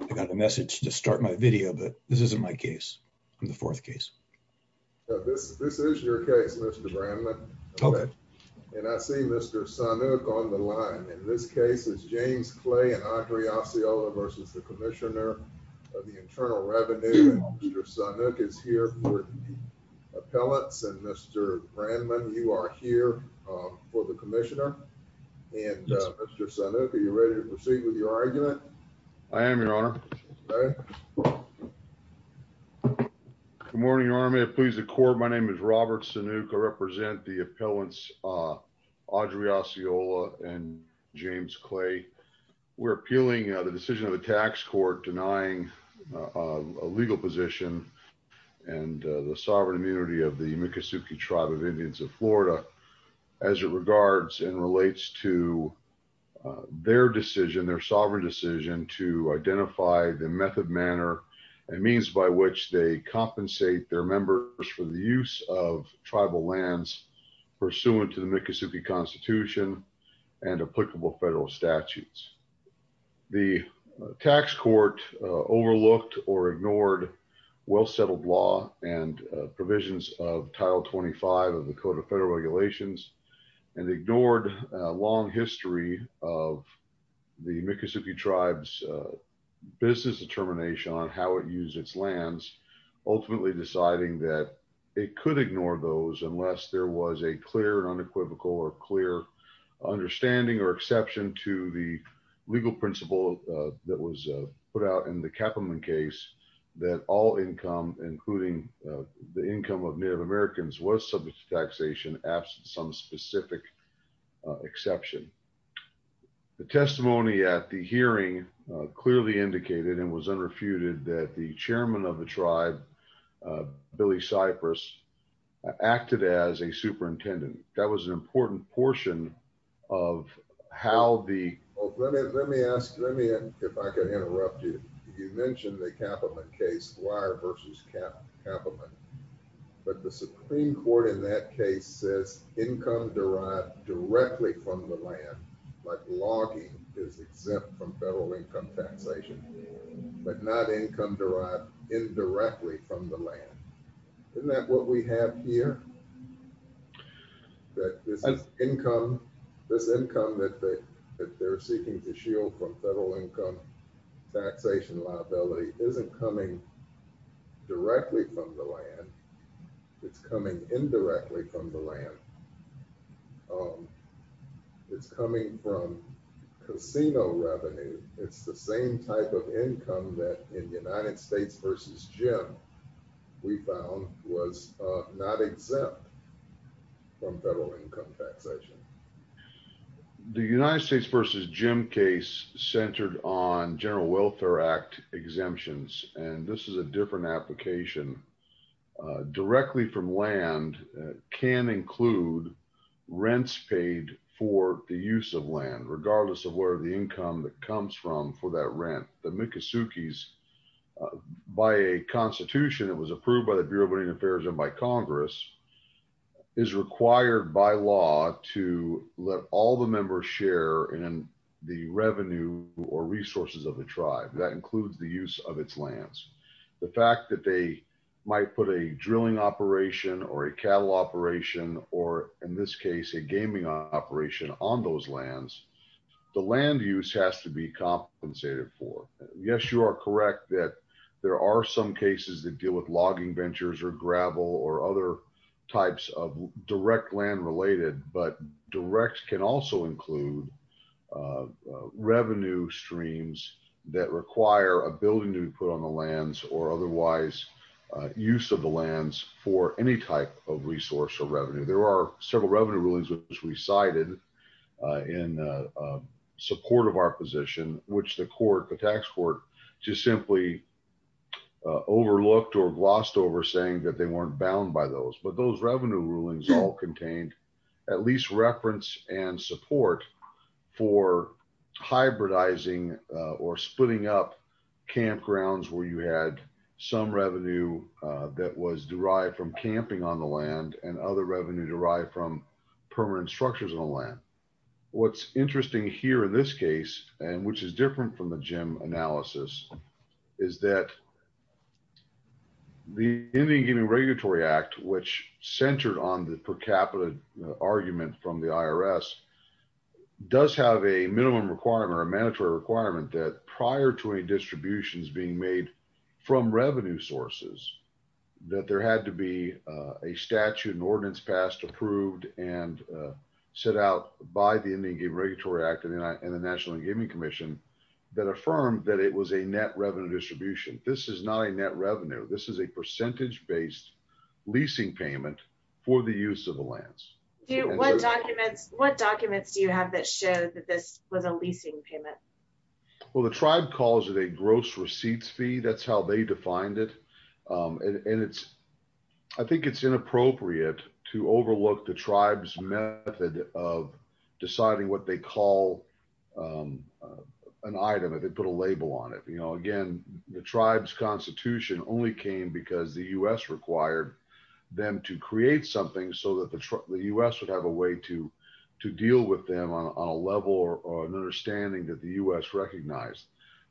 I got a message to start my video, but this isn't my case. I'm the fourth case. This is your case, Mr. Brandman. Okay. And I see Mr. Sanuk on the line. In this case, it's James Clay and Audrey Asciola versus the Commissioner of the Internal Revenue. Mr. Sanuk is here for appellants. And Mr. Brandman, you are here for the Commissioner. And Mr. Sanuk, are you ready to proceed with your argument? I am, Your Honor. Okay. Good morning, Your Honor. May it please the court, my name is Robert Sanuk. I represent the appellants Audrey Asciola and James Clay. We're appealing the decision of the tax court denying a legal position and the sovereign immunity of the Miccosukee Tribe of Indians of Florida as it regards and relates to their decision, their sovereign decision to identify the method, manner and means by which they compensate their members for the use of tribal lands pursuant to the Miccosukee Constitution and applicable federal statutes. The tax court overlooked or ignored well-settled law and provisions of Title 25 of the Code of Federal Regulations and ignored a long history of the Miccosukee Tribes business determination on how it used its lands, ultimately deciding that it could ignore those unless there was a clear and unequivocal or clear understanding or exception to the legal principle that was put out in the Kaplan case that all income, including the income of Native Americans was subject to taxation, absent some specific exception. The testimony at the hearing clearly indicated and was underfeuded that the chairman of the tribe, Billy Cypress, acted as a superintendent. That was an important portion of how the- Oh, let me ask, let me, if I can interrupt you. You mentioned the Kaplan case, wire versus Kaplan, but the Supreme Court in that case says income derived directly from the land, like logging is exempt from federal income taxation, but not income derived indirectly from the land. Isn't that what we have here? That this is income, this income that they're seeking to shield from federal income taxation liability isn't coming directly from the land. It's coming indirectly from the land. It's coming from casino revenue. It's the same type of income that in United States versus Jim, we found was not exempt from federal income taxation. The United States versus Jim case centered on General Welfare Act exemptions. And this is a different application. Directly from land can include rents paid for the use of land, regardless of where the income that comes from for that rent. The Miccosukees, by a constitution that was approved by the Bureau of Indian Affairs and by Congress is required by law to let all the members share in the revenue or resources of the tribe. That includes the use of its lands. The fact that they might put a drilling operation or a cattle operation, or in this case, a gaming operation on those lands, the land use has to be compensated for. Yes, you are correct that there are some cases that deal with logging ventures or gravel or other types of direct land related, but direct can also include revenue streams that require a building to be put on the lands or otherwise use of the lands for any type of resource or revenue. There are several revenue rulings which we cited in support of our position, which the court, the tax court just simply overlooked or glossed over saying that they weren't bound by those. But those revenue rulings all contained at least reference and support for hybridizing or splitting up campgrounds where you had some revenue that was derived from camping on the land and other revenue derived from permanent structures on the land. What's interesting here in this case, and which is different from the Jim analysis is that the Indian Gaming Regulatory Act, which centered on the per capita argument from the IRS does have a minimum requirement or a mandatory requirement that prior to any distributions being made from revenue sources, that there had to be a statute and ordinance passed, approved and set out by the Indian Gaming Regulatory Act and the National Gaming Commission that affirmed that it was a net revenue distribution. This is not a net revenue. This is a percentage-based leasing payment for the use of the lands. What documents do you have that show that this was a leasing payment? Well, the tribe calls it a gross receipts fee. That's how they defined it. And I think it's inappropriate to overlook the tribe's method of deciding what they call an item if they put a label on it. Again, the tribe's constitution only came because the U.S. required them to create something so that the U.S. would have a way to deal with them on a level or an understanding that the U.S. recognized.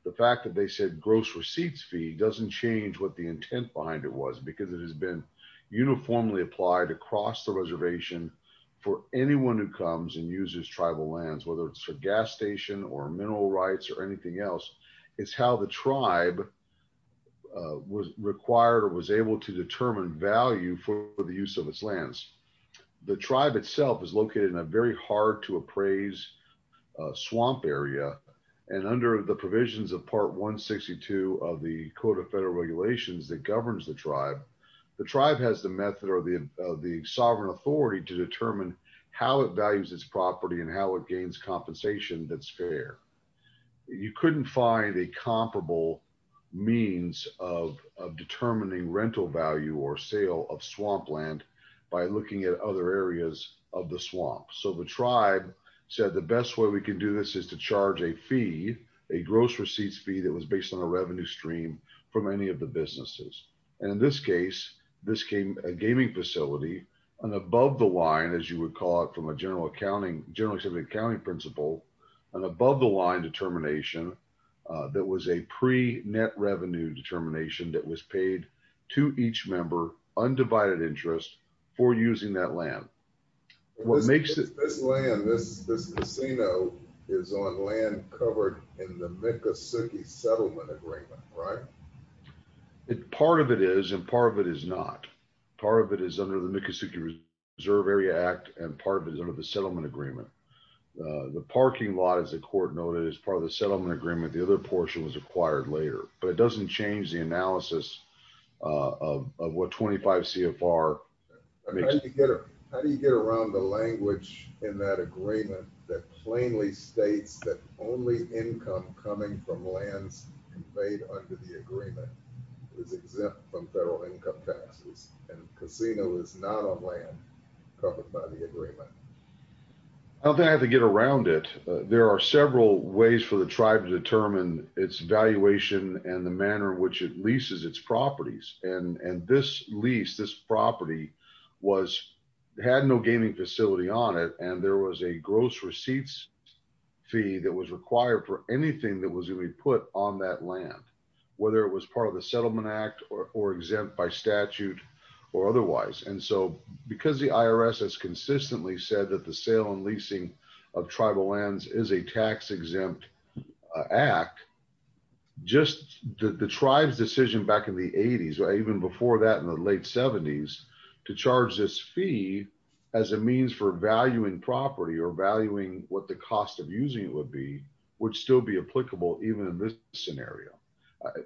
The fact that they said gross receipts fee doesn't change what the intent behind it was because it has been uniformly applied across the reservation for anyone who comes and uses tribal lands, whether it's a gas station or mineral rights or anything else. It's how the tribe was required or was able to determine value for the use of its lands. The tribe itself is located in a very hard to appraise swamp area. And under the provisions of part 162 of the Code of Federal Regulations that governs the tribe, the tribe has the method or the sovereign authority to determine how it values its property and how it gains compensation that's fair. You couldn't find a comparable means of determining rental value or sale of swampland by looking at other areas of the swamp. So the tribe said the best way we can do this is to charge a fee, a gross receipts fee that was based on a revenue stream from any of the businesses. And in this case, this came a gaming facility and above the line, as you would call it from a general accounting, generally accepted accounting principle and above the line determination that was a pre net revenue determination that was paid to each member undivided interest for using that land. What makes it- This land, this casino is on land covered in the Miccosukee Settlement Agreement, right? Part of it is and part of it is not. Part of it is under the Miccosukee Reserve Area Act and part of it is under the Settlement Agreement. The parking lot, as the court noted, is part of the Settlement Agreement. The other portion was acquired later, but it doesn't change the analysis of what 25 CFR. How do you get around the language in that agreement that plainly states that only income coming from lands conveyed under the agreement is exempt from federal income taxes and casino is not on land covered by the agreement? I don't think I have to get around it. There are several ways for the tribe to determine its valuation and the manner in which it leases its properties. And this lease, this property was, had no gaming facility on it and there was a gross receipts fee that was required for anything that was gonna be put on that land, whether it was part of the Settlement Act or exempt by statute or otherwise. And so because the IRS has consistently said that the sale and leasing of tribal lands is a tax exempt act, just the tribe's decision back in the 80s, even before that in the late 70s, to charge this fee as a means for valuing property or valuing what the cost of using it would be, would still be applicable even in this scenario.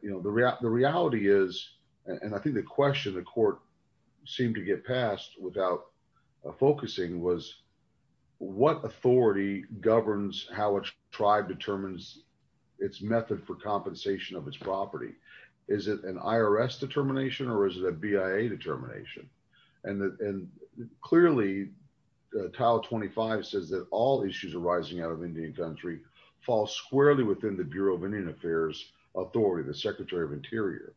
The reality is, and I think the question the court seemed to get passed without focusing was what authority governs how a tribe determines its method for compensation of its property? Is it an IRS determination or is it a BIA determination? And clearly, Tile 25 says that all issues arising out of Indian country fall squarely within the Bureau of Indian Affairs authority, the Secretary of Interior.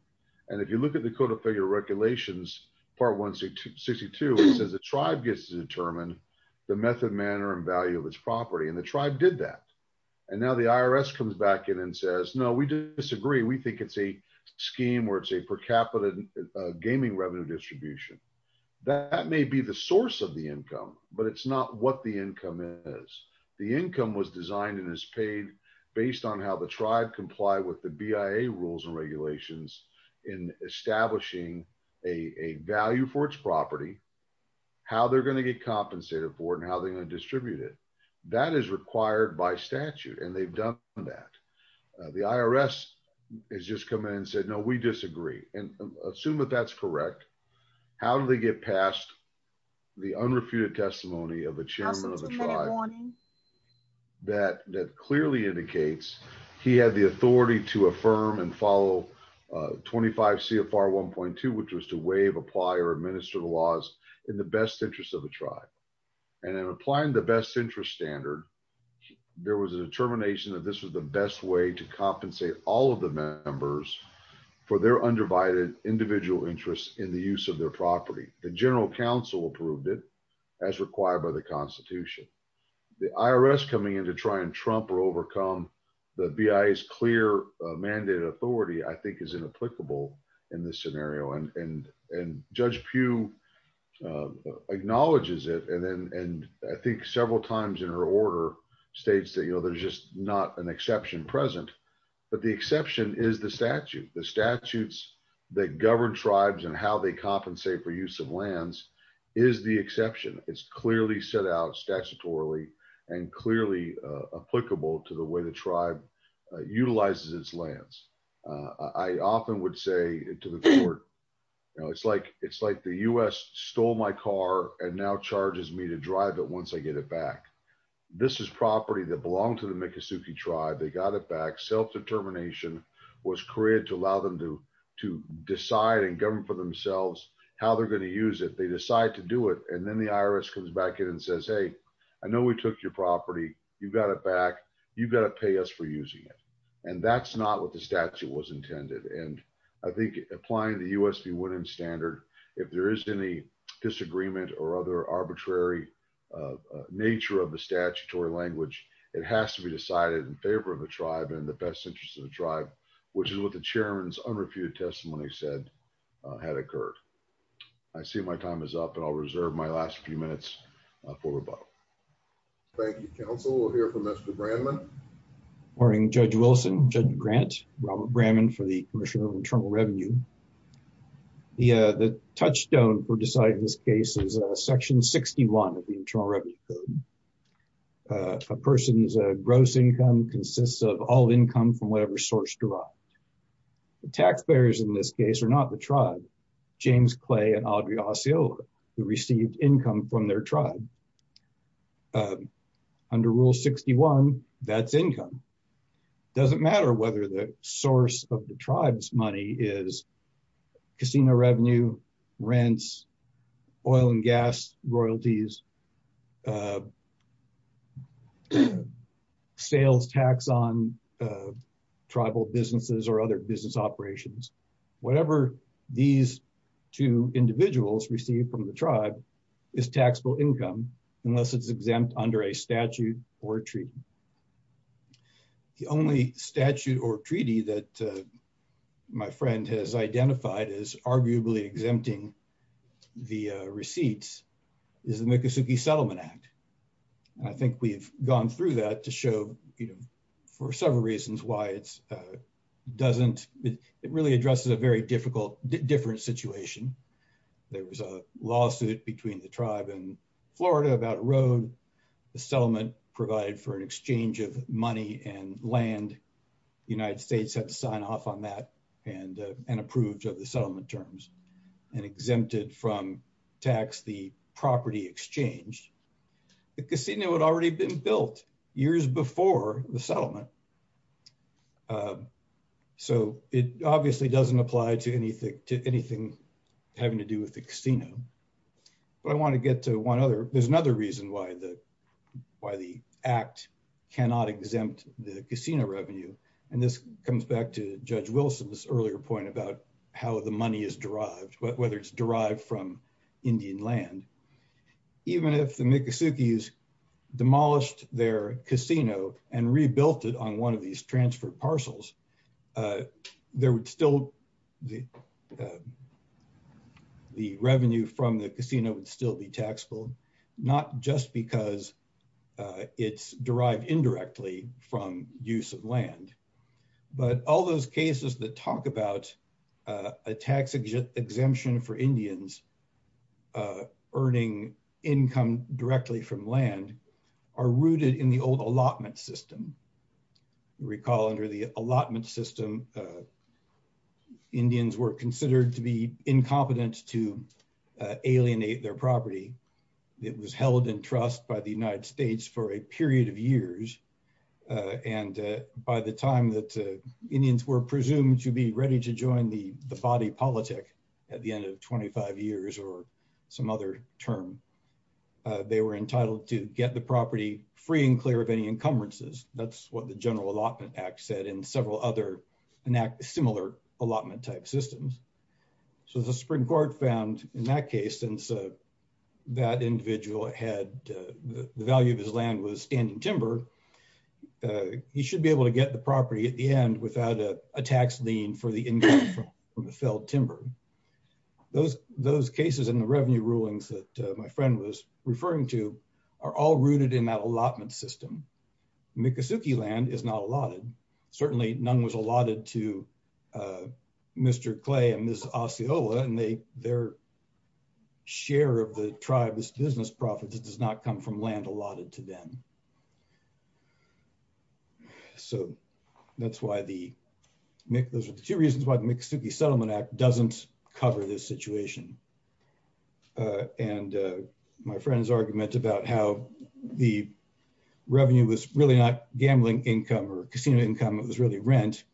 And if you look at the Code of Federal Regulations, Part 162, it says the tribe gets to determine the method, manner and value of its property. And the tribe did that. And now the IRS comes back in and says, no, we disagree. We think it's a scheme where it's a per capita gaming revenue distribution. That may be the source of the income, but it's not what the income is. The income was designed and is paid based on how the tribe comply with the BIA rules and regulations in establishing a value for its property, how they're gonna get compensated for it and how they're gonna distribute it. That is required by statute and they've done that. The IRS has just come in and said, no, we disagree. And assume that that's correct, how do they get past the unrefuted testimony of the chairman of the tribe that clearly indicates he had the authority to affirm and follow 25 CFR 1.2, which was to waive, apply or administer the laws in the best interest of the tribe. And in applying the best interest standard, there was a determination that this was the best way to compensate all of the members for their undivided individual interests in the use of their property. The general counsel approved it as required by the constitution. The IRS coming in to try and trump or overcome the BIA's clear mandate authority, I think is inapplicable in this scenario. And Judge Pugh acknowledges it. And I think several times in her order states that there's just not an exception present, but the exception is the statute. The statutes that govern tribes and how they compensate for use of lands is the exception. It's clearly set out statutorily and clearly applicable to the way the tribe utilizes its lands. I often would say to the court, it's like the U.S. stole my car and now charges me to drive it once I get it back. This is property that belonged to the Miccosukee tribe. They got it back. Self-determination was created to allow them to decide and govern for themselves how they're gonna use it. They decide to do it. And then the IRS comes back in and says, hey, I know we took your property. You've got it back. You've got to pay us for using it. And that's not what the statute was intended. And I think applying the U.S. be wooden standard, if there is any disagreement or other arbitrary nature of the statutory language, it has to be decided in favor of the tribe and the best interests of the tribe, which is what the chairman's unrefuted testimony said had occurred. I see my time is up and I'll reserve my last few minutes for rebuttal. Thank you, counsel. We'll hear from Mr. Brannman. Morning, Judge Wilson, Judge Grant, Robert Brannman for the Commissioner of Internal Revenue. The touchstone for deciding this case is section 61 of the Internal Revenue Code. A person's gross income consists of all income from whatever source derived. The taxpayers in this case are not the tribe. It was James Clay and Audrey Osiel who received income from their tribe. Under rule 61, that's income. Doesn't matter whether the source of the tribe's money is casino revenue, rents, oil and gas royalties, sales tax on tribal businesses or other business operations. Whatever these two individuals receive from the tribe is taxable income unless it's exempt under a statute or a treaty. The only statute or treaty that my friend has identified as arguably exempting the receipts is the Miccosukee Settlement Act. And I think we've gone through that to show, for several reasons why it's doesn't, it really addresses a very different situation. There was a lawsuit between the tribe and Florida about a road. The settlement provided for an exchange of money and land. United States had to sign off on that and approved of the settlement terms and exempted from tax the property exchanged. The casino had already been built years before the settlement. So it obviously doesn't apply to anything having to do with the casino. But I wanna get to one other, there's another reason why the act cannot exempt the casino revenue. And this comes back to Judge Wilson's earlier point about how the money is derived, whether it's derived from Indian land. Even if the Miccosukees demolished their casino and rebuilt it on one of these transfer parcels, there would still, the revenue from the casino would still be taxable, not just because it's derived indirectly from use of land. But all those cases that talk about a tax exemption for Indians earning income directly from land are rooted in the old allotment system. Recall under the allotment system, Indians were considered to be incompetent to alienate their property. It was held in trust by the United States for a period of years. And by the time that Indians were presumed to be ready to join the body politic at the end of 25 years or some other term, they were entitled to get the property free and clear of any encumbrances. That's what the General Allotment Act said in several other similar allotment type systems. So the Supreme Court found in that case, since that individual had the value of his land was standing timber, he should be able to get the property at the end without a tax lien for the income from the felled timber. Those cases and the revenue rulings that my friend was referring to are all rooted in that allotment system. Miccosukee land is not allotted. Certainly none was allotted to Mr. Clay and Ms. Osceola and their share of the tribe's business profits does not come from land allotted to them. So those are the two reasons why the Miccosukee Settlement Act doesn't cover this situation. And my friend's argument about how the revenue was really not gambling income or casino income, it was really rent.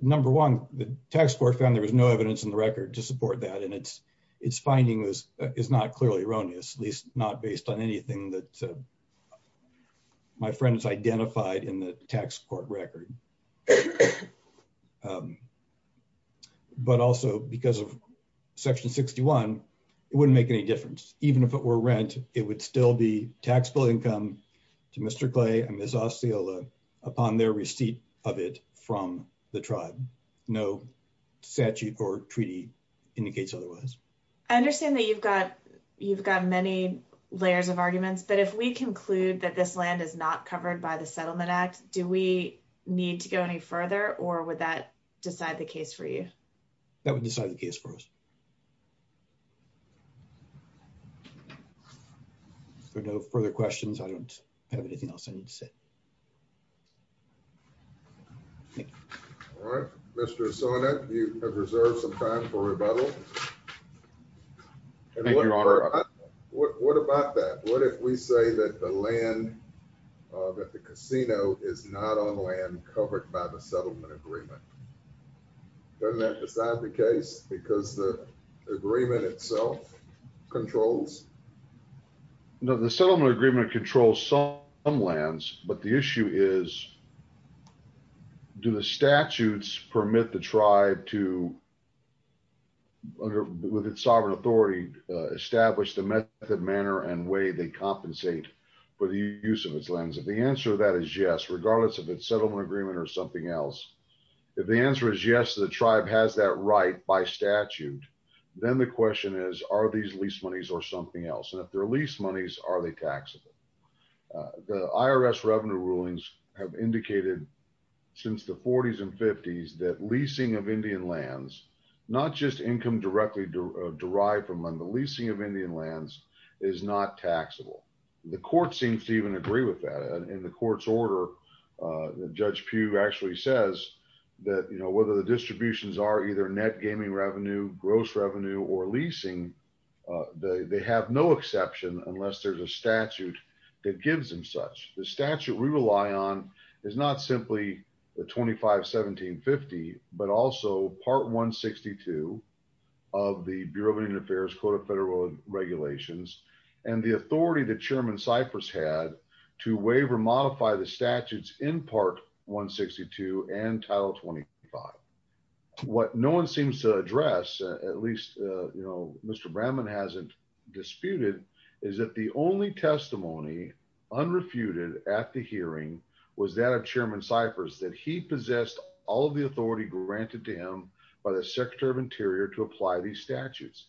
Number one, the tax court found there was no evidence in the record to support that. And its finding is not clearly erroneous, at least not based on anything that my friend has identified in the tax court record. But also because of section 61, it wouldn't make any difference. Even if it were rent, it would still be taxable income to Mr. Clay and Ms. Osceola upon their receipt of it from the tribe. No statute or treaty indicates otherwise. I understand that you've got many layers of arguments, but if we conclude that this land is not covered by the Settlement Act, do we need to go any further or would that decide the case for you? That would decide the case for us. Thank you. There are no further questions. I don't have anything else I need to say. Thank you. All right, Mr. Osuna, you have reserved some time for rebuttal. Thank you, Your Honor. What about that? What if we say that the land, covered by the settlement agreement? Doesn't that decide the case? Because the agreement itself controls? No, the settlement agreement controls some lands, but the issue is, do the statutes permit the tribe to, with its sovereign authority, establish the method, manner, and way they compensate for the use of its lands? If the answer to that is yes, regardless of its settlement agreement or something else, if the answer is yes to the tribe has that right by statute, then the question is, are these lease monies or something else? And if they're lease monies, are they taxable? The IRS revenue rulings have indicated since the 40s and 50s that leasing of Indian lands, not just income directly derived from them, the leasing of Indian lands is not taxable. The court seems to even agree with that. In the court's order, Judge Pugh actually says that, whether the distributions are either net gaming revenue, gross revenue, or leasing, they have no exception unless there's a statute that gives them such. The statute we rely on is not simply the 25, 17, 50, but also part 162 of the Bureau of Indian Affairs Code of Federal Regulations, and the authority that Chairman Cyprus had to waive or modify the statutes in part 162 and title 20. And the court has not yet agreed to that. What no one seems to address, at least, you know, Mr. Bramman hasn't disputed, is that the only testimony unrefuted at the hearing was that of Chairman Cyprus, that he possessed all of the authority granted to him by the Secretary of Interior to apply these statutes.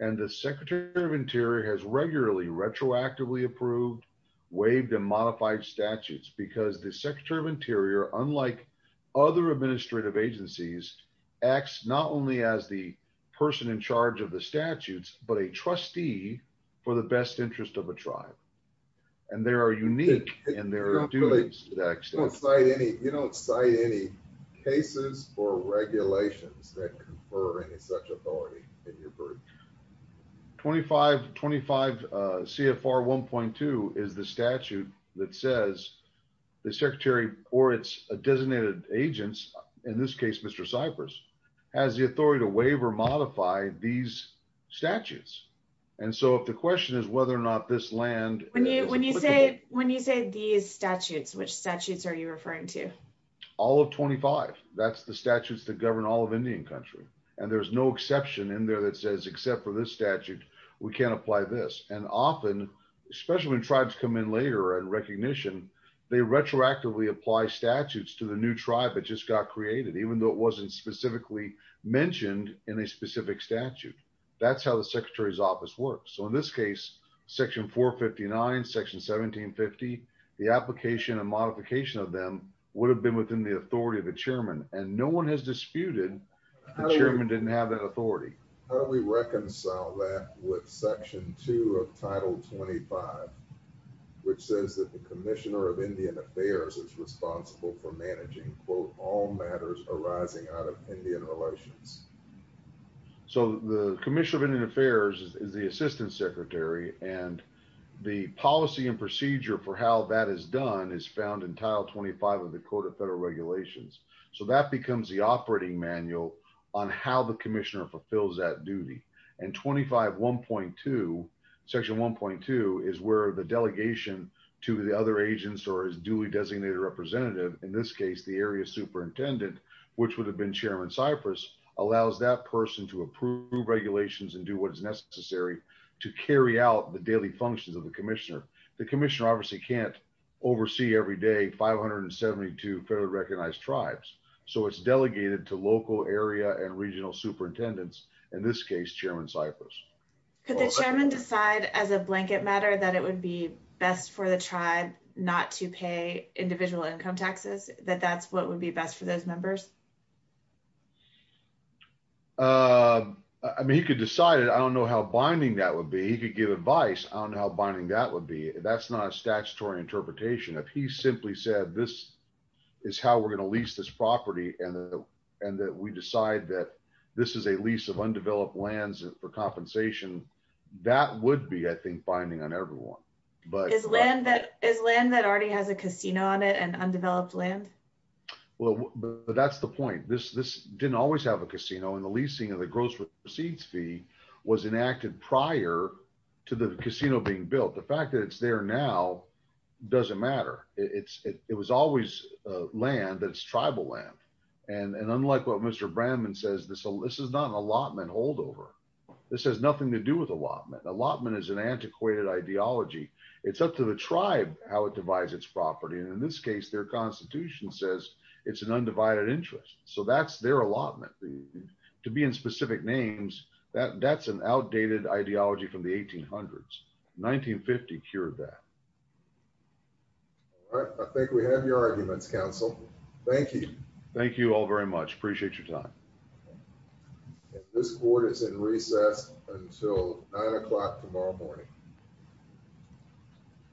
And the Secretary of Interior has regularly retroactively approved, waived and modified statutes because the Secretary of Interior, unlike other administrative agencies, acts not only as the person in charge of the statutes, but a trustee for the best interest of a tribe. And they are unique in their duties. You don't cite any cases or regulations that confer any such authority in your group? 25 CFR 1.2 is the statute that says the Secretary or its designated agents, in this case, Mr. Cyprus, has the authority to waive or modify these statutes. And so if the question is whether or not this land- When you say these statutes, which statutes are you referring to? All of 25. That's the statutes that govern all of Indian country. And there's no exception in there that says, except for this statute, we can't apply this. And often, especially when tribes come in later and recognition, they retroactively apply statutes to the new tribe that just got created, even though it wasn't specifically mentioned in a specific statute. That's how the secretary's office works. So in this case, section 459, section 1750, the application and modification of them would have been within the authority of the chairman. And no one has disputed the chairman didn't have that authority. How do we reconcile that with section two of title 25, which says that the commissioner of Indian affairs is responsible for managing, quote, all matters arising out of Indian relations? So the commissioner of Indian affairs is the assistant secretary, and the policy and procedure for how that is done is found in tile 25 of the code of federal regulations. So that becomes the operating manual on how the commissioner fulfills that duty. And 25.1.2, section 1.2, is where the delegation to the other agents or his duly designated representative, in this case, the area superintendent, which would have been chairman Cypress, allows that person to approve regulations and do what is necessary to carry out the daily functions of the commissioner. The commissioner obviously can't oversee every day 572 federally recognized tribes. So it's delegated to local area and regional superintendents, in this case, chairman Cypress. Could the chairman decide as a blanket matter that it would be best for the tribe not to pay individual income taxes, that that's what would be best for those members? I mean, he could decide it. I don't know how binding that would be. He could give advice on how binding that would be. That's not a statutory interpretation. If he simply said, this is how we're gonna lease this property, and that we decide that this is a lease of undeveloped lands for compensation, that would be, I think, binding on everyone. But- Is land that already has a casino on it and undeveloped land? Well, but that's the point. This didn't always have a casino, and the leasing of the gross receipts fee was enacted prior to the casino being built. The fact that it's there now doesn't matter. It was always land that's tribal land. And unlike what Mr. Brandman says, this is not an allotment holdover. This has nothing to do with allotment. Allotment is an antiquated ideology. It's up to the tribe how it divides its property. And in this case, their constitution says it's an undivided interest. So that's their allotment. To be in specific names, that's an outdated ideology from the 1800s. 1950 cured that. All right, I think we have your arguments, counsel. Thank you. Thank you all very much. Appreciate your time. And this court is in recess until nine o'clock tomorrow morning.